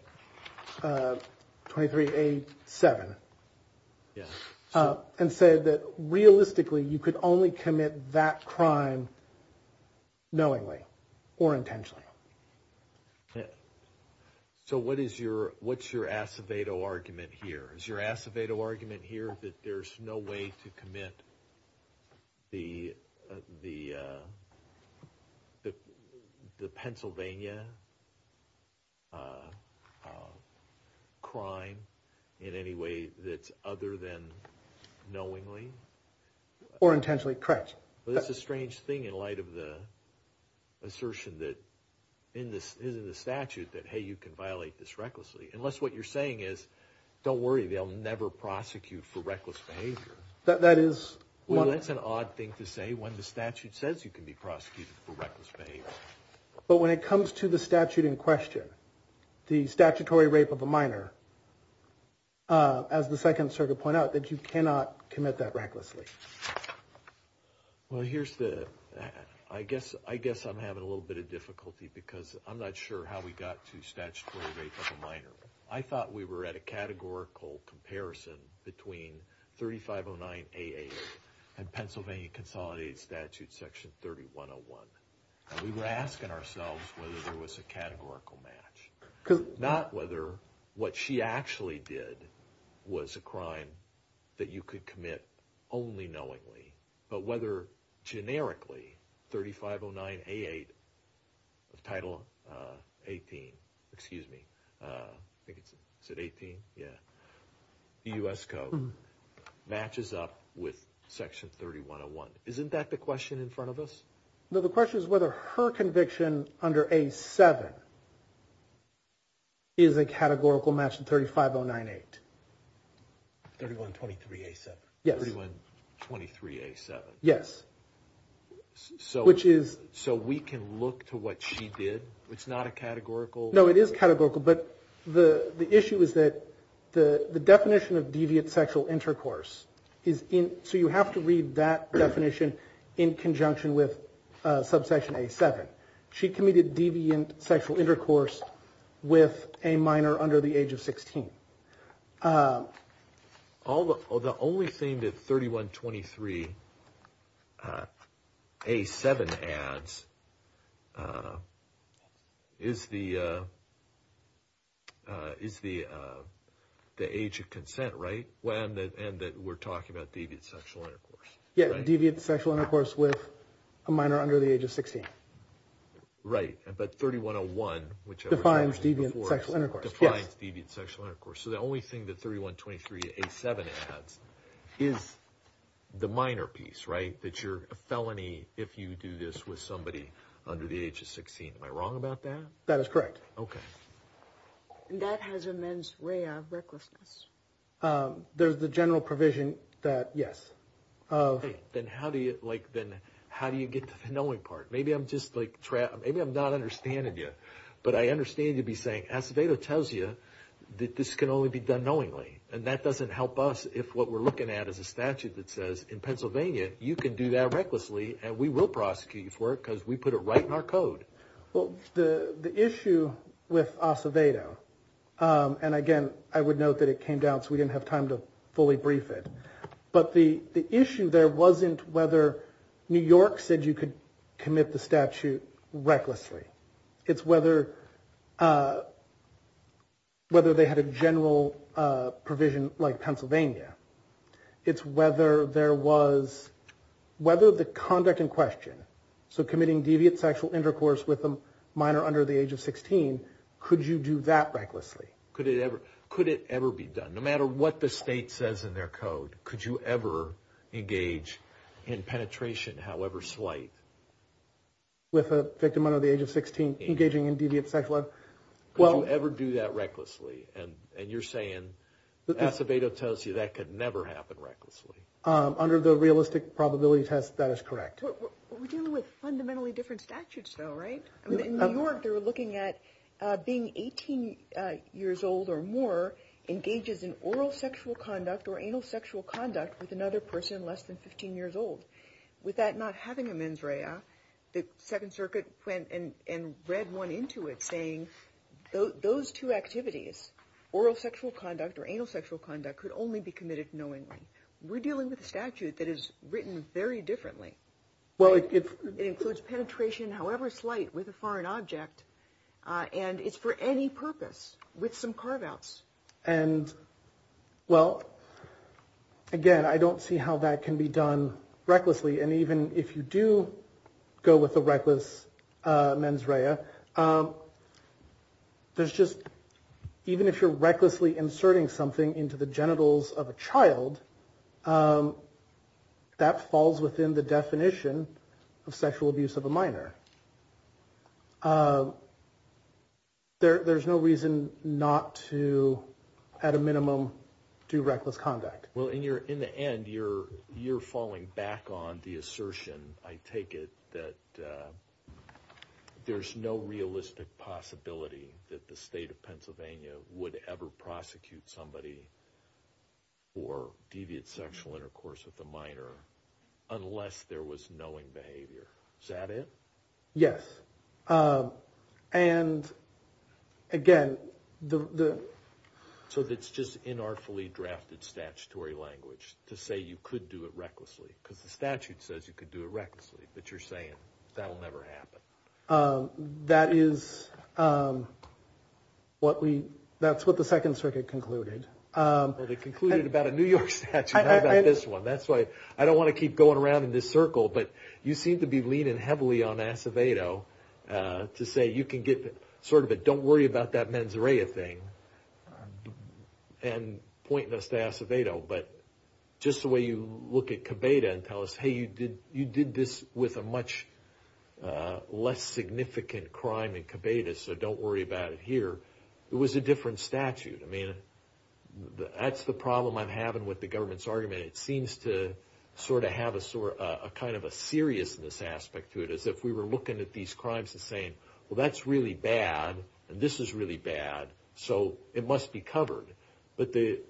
twenty three, a seven. And said that realistically, you could only commit that crime knowingly or intentionally. So what is your what's your Acevedo argument here is your Acevedo argument here that there's no way to commit the the the Pennsylvania crime in any way that's other than knowingly or intentionally. Correct. That's a strange thing in light of the assertion that in this is in the statute that, hey, you can violate this recklessly unless what you're saying is, don't worry, they'll never prosecute for reckless behavior. That that is what it's an odd thing to say when the statute says you can be prosecuted for reckless behavior. But when it comes to the statute in question, the statutory rape of a minor. As the Second Circuit point out that you cannot commit that recklessly. Well, here's the I guess I guess I'm having a little bit of difficulty because I'm not sure how we got to statutory rape of a minor. I thought we were at a categorical comparison between thirty five oh nine eight and Pennsylvania consolidated statute section thirty one oh one. We were asking ourselves whether there was a categorical match, not whether what she actually did was a crime that you could commit only knowingly. But whether generically thirty five oh nine eight of Title 18. Excuse me. I think it's at 18. Yeah. U.S. code matches up with section thirty one oh one. Isn't that the question in front of us? The question is whether her conviction under a seven. Is a categorical match in thirty five oh nine eight. Thirty one. Twenty three. Yes. Twenty three. Yes. So which is. So we can look to what she did. It's not a categorical. No, it is categorical. But the issue is that the definition of deviant sexual intercourse is in. So you have to read that definition in conjunction with subsection a seven. She committed deviant sexual intercourse with a minor under the age of 16. Although the only thing that thirty one. Twenty three. A seven ads. Is the. Is the. The age of consent. Right. And that we're talking about deviant sexual intercourse. Yeah. Deviant sexual intercourse with a minor under the age of 16. Right. But thirty one oh one. Which defines deviant sexual intercourse. So the only thing that thirty one. Twenty three. A seven. Is the minor piece. Right. That you're a felony. If you do this with somebody under the age of 16. Am I wrong about that? That is correct. OK. And that has a men's way of recklessness. There's the general provision that. Yes. Then how do you like. Then how do you get to the knowing part. Maybe I'm just like. Maybe I'm not understanding you. But I understand you'd be saying. Acevedo tells you. That this can only be done knowingly. And that doesn't help us. If what we're looking at is a statute that says. In Pennsylvania. You can do that recklessly. And we will prosecute you for it. Because we put it right in our code. Well the. The issue. With Acevedo. And again. I would note that it came down. So we didn't have time to. Fully brief it. But the. The issue there wasn't whether. New York said you could. Commit the statute. Recklessly. It's whether. Whether they had a general. Provision like Pennsylvania. It's whether there was. Whether the conduct in question. So committing deviant sexual intercourse with them. Minor under the age of 16. Could you do that recklessly. Could it ever. Could it ever be done. No matter what the state says in their code. Could you ever. Engage. In penetration however slight. With a victim under the age of 16. Engaging in deviant sexual. Well. Could you ever do that recklessly. And. And you're saying. Acevedo tells you that could never happen recklessly. Under the realistic probability test. That is correct. We're dealing with fundamentally different statutes though. Right. I mean in New York. They were looking at. Being 18 years old or more. Engages in oral sexual conduct. Or anal sexual conduct. With another person less than 15 years old. With that not having a mens rea. The second circuit went and read one into it. Saying. Those two activities. Oral sexual conduct or anal sexual conduct. Could only be committed knowingly. We're dealing with a statute that is. Written very differently. Well. It includes penetration however slight. With a foreign object. And it's for any purpose. With some carve outs. And. Well. Again. I don't see how that can be done. Recklessly and even if you do. Go with the reckless. Mens rea. There's just. Even if you're recklessly inserting something into the genitals of a child. That falls within the definition. Of sexual abuse of a minor. There's no reason not to. At a minimum. Do reckless conduct. Well in your in the end. You're you're falling back on the assertion. I take it. That. There's no realistic possibility. That the state of Pennsylvania. Would ever prosecute somebody. Or deviate sexual intercourse with a minor. Unless there was knowing behavior. Is that it. Yes. And. Again. The. So it's just in our fully drafted statutory language. To say you could do it recklessly. Because the statute says you could do it recklessly. But you're saying. That'll never happen. That is. What we. That's what the Second Circuit concluded. Well they concluded about a New York statute. Not about this one. That's why. I don't want to keep going around in this circle. But you seem to be leaning heavily on Acevedo. To say you can get. Sort of it. Don't worry about that mens rea thing. And. Pointing us to Acevedo. But. Just the way you. Look at Cabeda. And tell us. Hey you did. You did this. With a much. Less significant crime in Cabeda. So don't worry about it here. It was a different statute. I mean. That's the problem I'm having. With the government's argument. It seems to. Sort of have a. Sort of. A kind of a seriousness. Aspect to it. As if we were looking at these crimes. And saying. Well that's really bad. And this is really bad. So. It must be covered. But the.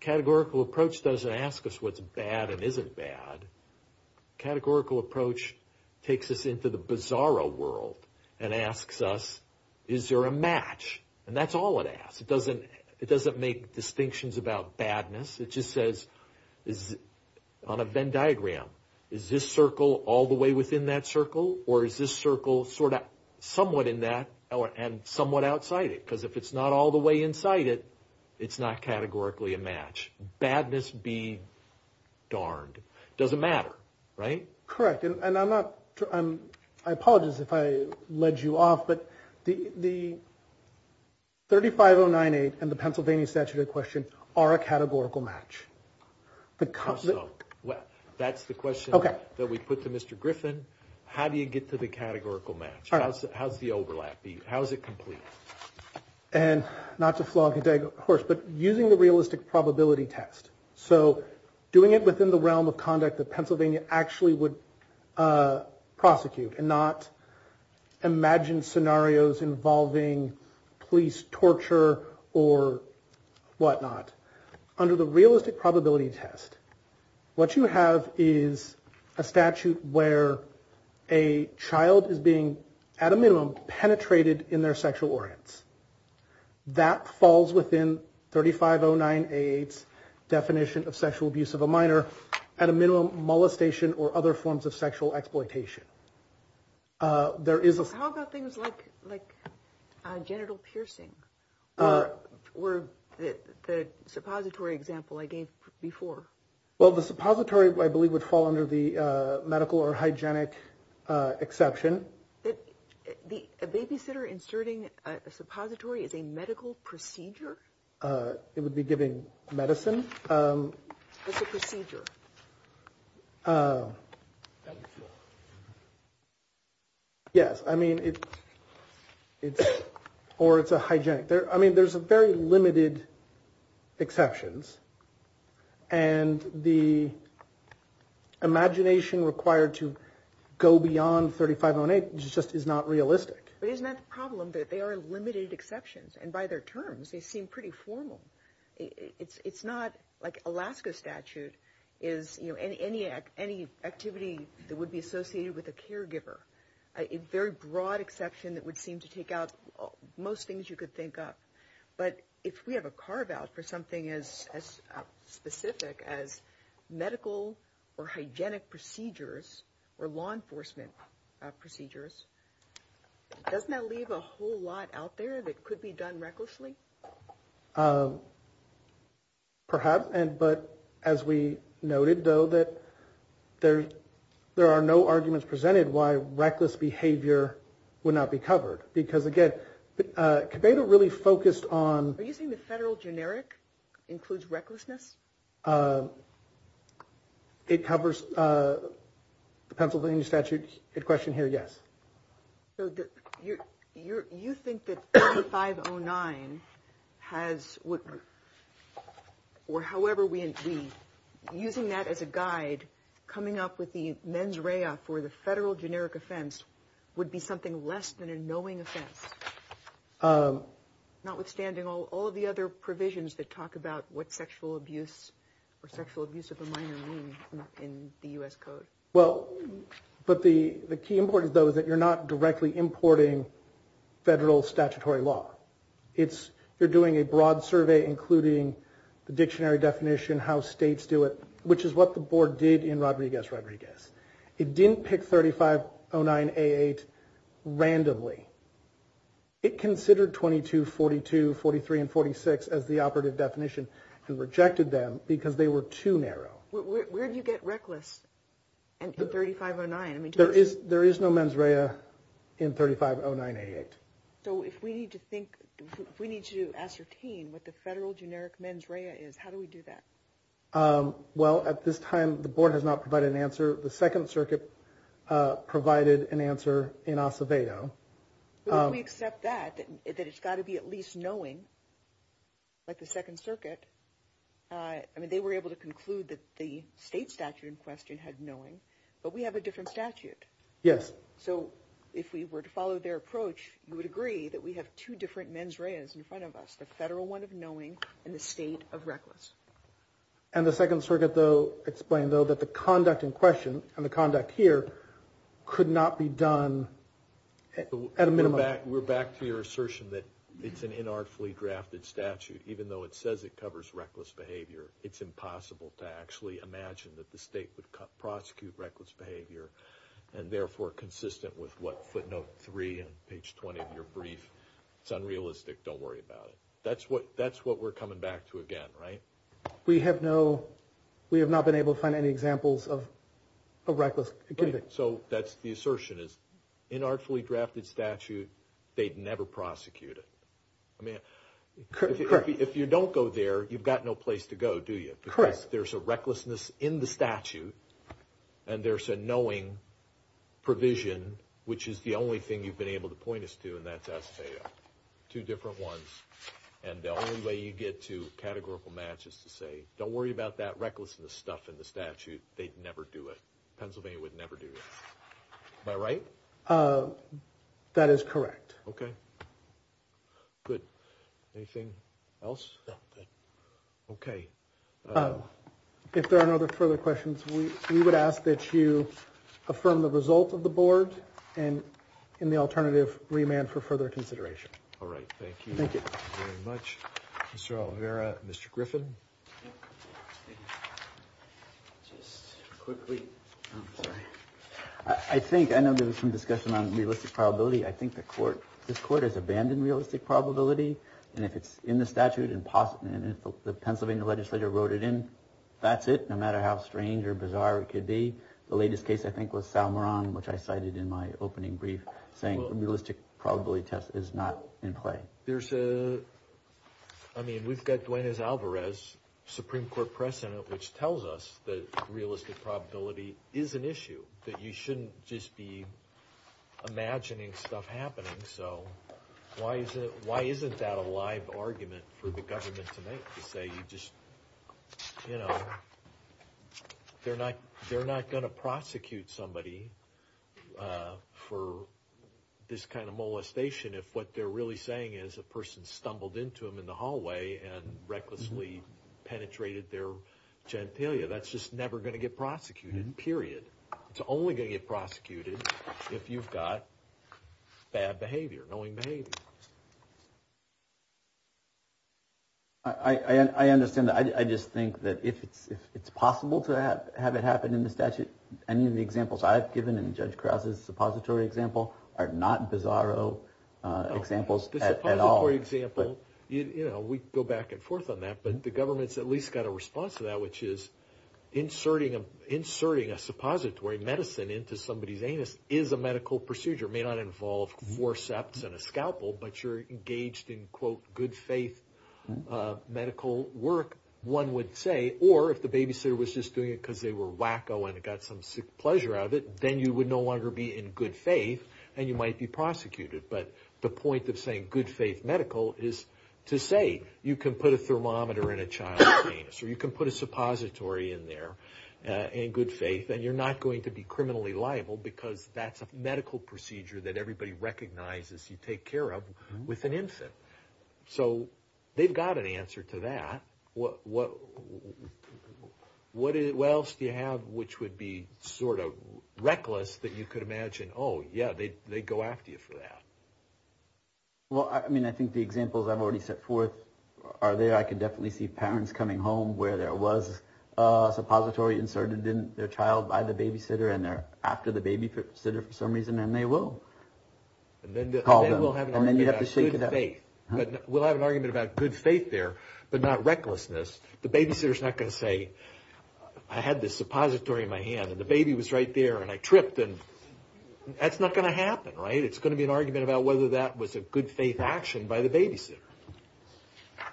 Categorical approach. Doesn't ask us what's bad. And isn't bad. Categorical approach. Takes us into the bizarro world. And asks us. Is there a match. And that's all it asks. It doesn't. It doesn't make. Distinctions about badness. It just says. Is. On a Venn diagram. Is this circle. All the way within that circle. Or is this circle. Sort of. Somewhat in that. And somewhat outside it. Because if it's not all the way inside it. It's not categorically a match. Badness be. Darned. Doesn't matter. Right? Correct. And I'm not. I'm. I apologize if I. Led you off. But. The. The. 35098. And the Pennsylvania statute of questions. Are a categorical match. How so? Well. That's the question. Okay. That we put to Mr. Griffin. How do you get to the categorical match? All right. How's the overlap? How's it complete? And not to flog a dead horse. But using the realistic probability test. So. Doing it within the realm of conduct. The Pennsylvania actually would. Prosecute and not. Imagine scenarios involving. Police torture or. What not. Under the realistic probability test. What you have is. A statute where. A child is being. At a minimum. Penetrated in their sexual organs. That falls within. 35098. Definition of sexual abuse of a minor. At a minimum molestation. Or other forms of sexual exploitation. There is a. How about things like. Like. Genital piercing. Or. Or. The. Suppository example. I gave before. Well the suppository. I believe would fall under the. Medical or hygienic. Exception. The. Babysitter inserting. A suppository is a medical. Procedure. It would be giving. Medicine. Procedure. Yes. I mean. It's. Or it's a hygienic there. I mean there's a very limited. Exceptions. And the. Imagination required to. Go beyond 3508. Just is not realistic. But isn't that the problem. That they are limited exceptions. And by their terms. They seem pretty formal. It's not like Alaska statute. Is you know any. Any activity that would be associated. With a caregiver. A very broad exception. That would seem to take out. Most things you could think up. But if we have a carve out. For something as. Specific as medical. Or hygienic procedures. Or law enforcement. Procedures. Doesn't that leave a whole lot. Out there that could be done. Recklessly. Perhaps and but as we. Noted though that. There's there are no arguments. Presented why reckless behavior. Would not be covered. Because again. They don't really focused on. Using the federal generic. Includes recklessness. It covers. The Pennsylvania statute. It question here yes. You're you're you think that. Five oh nine. Has what. Or however we. Using that as a guide. Coming up with the mens rea. For the federal generic offense. Would be something less than. A knowing offense. Notwithstanding all of the other. Provisions that talk about. What sexual abuse. Or sexual abuse of a minor. In the U.S. Code. Well. But the the key important though. That you're not directly importing. Federal statutory law. It's you're doing a broad survey. Including the dictionary definition. How states do it. Which is what the board did in. Rodriguez Rodriguez. It didn't pick thirty five. Oh nine eight. Randomly. It considered twenty two forty two. Forty three and forty six. As the operative definition. And rejected them. Because they were too narrow. Where do you get reckless. And thirty five or nine. I mean there is. There is no mens rea. In thirty five oh nine eight. So if we need to think. We need to ascertain. What the federal generic mens rea is. How do we do that. Well at this time. The board has not provided an answer. The Second Circuit. Provided an answer. In Acevedo. We accept that. That it's got to be at least knowing. Like the Second Circuit. I mean they were able to conclude. That the state statute in question. Had knowing. But we have a different statute. Yes. So if we were to follow their approach. You would agree. That we have two different mens reas. In front of us. The federal one of knowing. And the state of reckless. And the Second Circuit though. Explained though. That the conduct in question. And the conduct here. Could not be done. At a minimum. We're back to your assertion that. It's an inartfully drafted statute. Even though it says it covers. Reckless behavior. It's impossible to actually imagine. That the state would prosecute. Reckless behavior. And therefore consistent. With what footnote three. And page 20 of your brief. It's unrealistic. Don't worry about it. That's what we're coming back to again. Right? We have no. We have not been able to find any examples. Of reckless conduct. So that's the assertion is. Inartfully drafted statute. They'd never prosecute it. I mean. Correct. If you don't go there. You've got no place to go. Do you? Correct. There's a recklessness in the statute. And there's a knowing. Provision. Which is the only thing. You've been able to point us to. And that's as a. Two different ones. And the only way you get to. Categorical matches to say. Don't worry about that. Recklessness stuff in the statute. They'd never do it. Pennsylvania would never do it. Am I right? That is correct. Okay. Good. Anything else? Okay. If there are no other further questions. We would ask that you. Affirm the result of the board. And in the alternative. Remand for further consideration. All right. Thank you. Thank you very much. Mr. Rivera. Mr. Griffin. Just quickly. I'm sorry. I think. I know there was some discussion. On realistic probability. I think the court. This court has abandoned realistic probability. And if it's in the statute. Impossible. The Pennsylvania legislature. Wrote it in. That's it. No matter how strange. Or bizarre. It could be. The latest case. I think was. Sal Moran. Which I cited. In my opening brief. Saying realistic. Probability test. Is not in play. There's a. I mean. We've got. Gwyneth Alvarez. Supreme Court precedent. Which tells us. That realistic. Probability. Is an issue. That you shouldn't. Just be. Imagining stuff. Happening. So. Why is it. Why isn't that. A live argument. For the government. To make. To say. You just. You know. They're not. They're not. Going to prosecute. Somebody. For. This kind of. Molestation. If what they're. Really saying. Is a person. Stumbled into him. In the hallway. And recklessly. Penetrated their. Genitalia. That's just never. Going to get prosecuted. Period. It's only. Going to get prosecuted. If you've got. Bad behavior. Knowing behavior. I understand that. I just think. That if it's. If it's possible. To have. Have it happen. In the statute. Any of the examples. I've given. In Judge Krause's. Suppository example. Are not. Bizarro. Examples. At all. The suppository example. You know. We go back and forth. On that. But the government's. At least got a response. To that. Which is. Inserting a. Inserting a. Suppository medicine. Into somebody's. Medical procedure. May not involve. Forceps. And a scalpel. But you're. Engaged in. Quote. Good faith. Medical work. One would say. Or if the babysitter. Was just doing it. Because they were. Wacko. And it got some. Sick pleasure out of it. Then you would no longer. Be in good faith. And you might be prosecuted. But the point of saying. Good faith medical. Is to say. You can put a thermometer. In a child's penis. Or you can put a suppository. In there. In good faith. And you're not going to be. Criminally liable. Because that's. A medical procedure. That everybody recognizes. You take care of. With an infant. So. They've got an answer. To that. What. What. What else. Do you have. Which would be. Sort of. Reckless. That you could imagine. Oh yeah. They go after you. For that. Well I mean. I think the examples. I've already set forth. Are there. I can definitely see. Parents coming home. Where there was. A suppository inserted. In their child. By the babysitter. And they're. After the babysitter. For some reason. And they will. Call them. And then you have to. Shake it up. Good faith. We'll have an argument. About good faith there. But not recklessness. The babysitter's not going to say. I had this suppository. In my hand. And the baby was right there. And I tripped. And. That's not going to happen. Right. It's going to be an argument. About whether that was. A good faith action. By the babysitter.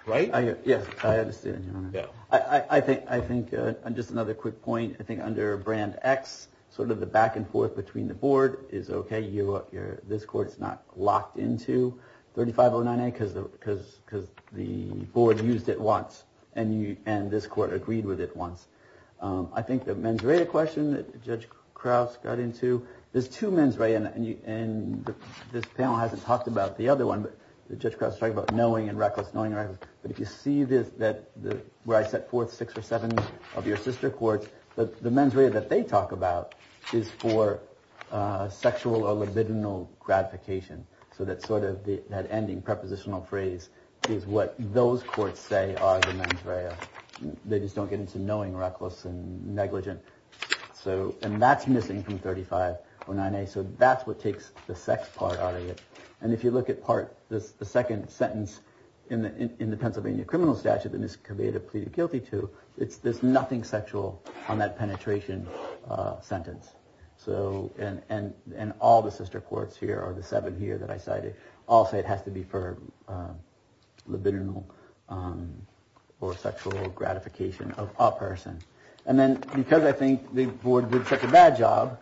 Right. Yes. I understand. Yeah. I think. I think. Just another quick point. I think. Under. Brand X. Sort of the back and forth. Between the board. Is okay. You. This court. Is not. Locked into. 3509A. Because. Because. Because. The board. Used it once. And you. And this court. Agreed with it once. I think. The mens rea. Question. That Judge Krauss. Got into. There's two mens rea. And you. And. This panel. Hasn't talked about. The other one. But. The Judge Krauss. Talking about. Knowing and reckless. Knowing and reckless. But if you see this. That. Where I set forth. Six or seven. Of your sister courts. But the mens rea. That they talk about. Is for. Sexual or libidinal. Gratification. So that sort of. That ending. Prepositional phrase. Is what. Those courts say. Are the mens rea. They just don't get into. Knowing reckless. And negligent. So. And that's missing. From 3509A. So that's what takes. The sex part. Out of it. And if you look at part. The second. Sentence. In the Pennsylvania. Criminal statute. That Ms. Caveda. Pleaded guilty to. It's. There's nothing sexual. On that penetration. Sentence. So. And. And. All the sister courts. Here are the seven. Here that I cited. Also it has to be for. Libidinal. Or sexual. Gratification. Of a person. And then. Because I think. The board. Did such a bad job.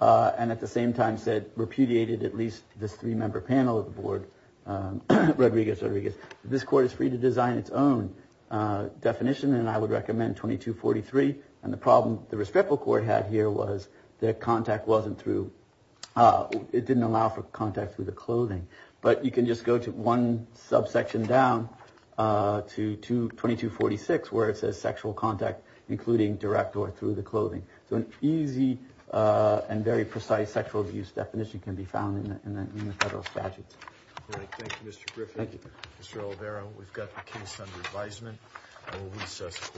And at the same time. Said repudiated. At least. This three member. Panel of the board. Rodriguez. Rodriguez. This court is free. To design. Its own. Definition. And I would recommend. 2243. And the problem. The respectful court. Had here was. That contact. Wasn't through. It didn't allow. For contact. With the clothing. But you can just go. To one. Subsection down. To 2246. Where it says. Sexual contact. Including direct. Or through the clothing. So an easy. And very precise. Sexual abuse. Definition can be found. In the federal statute. Thank you. Mr Griffin. Thank you. Mr. Olvera. We've got the case. Under advisement. I will. Recess. Court.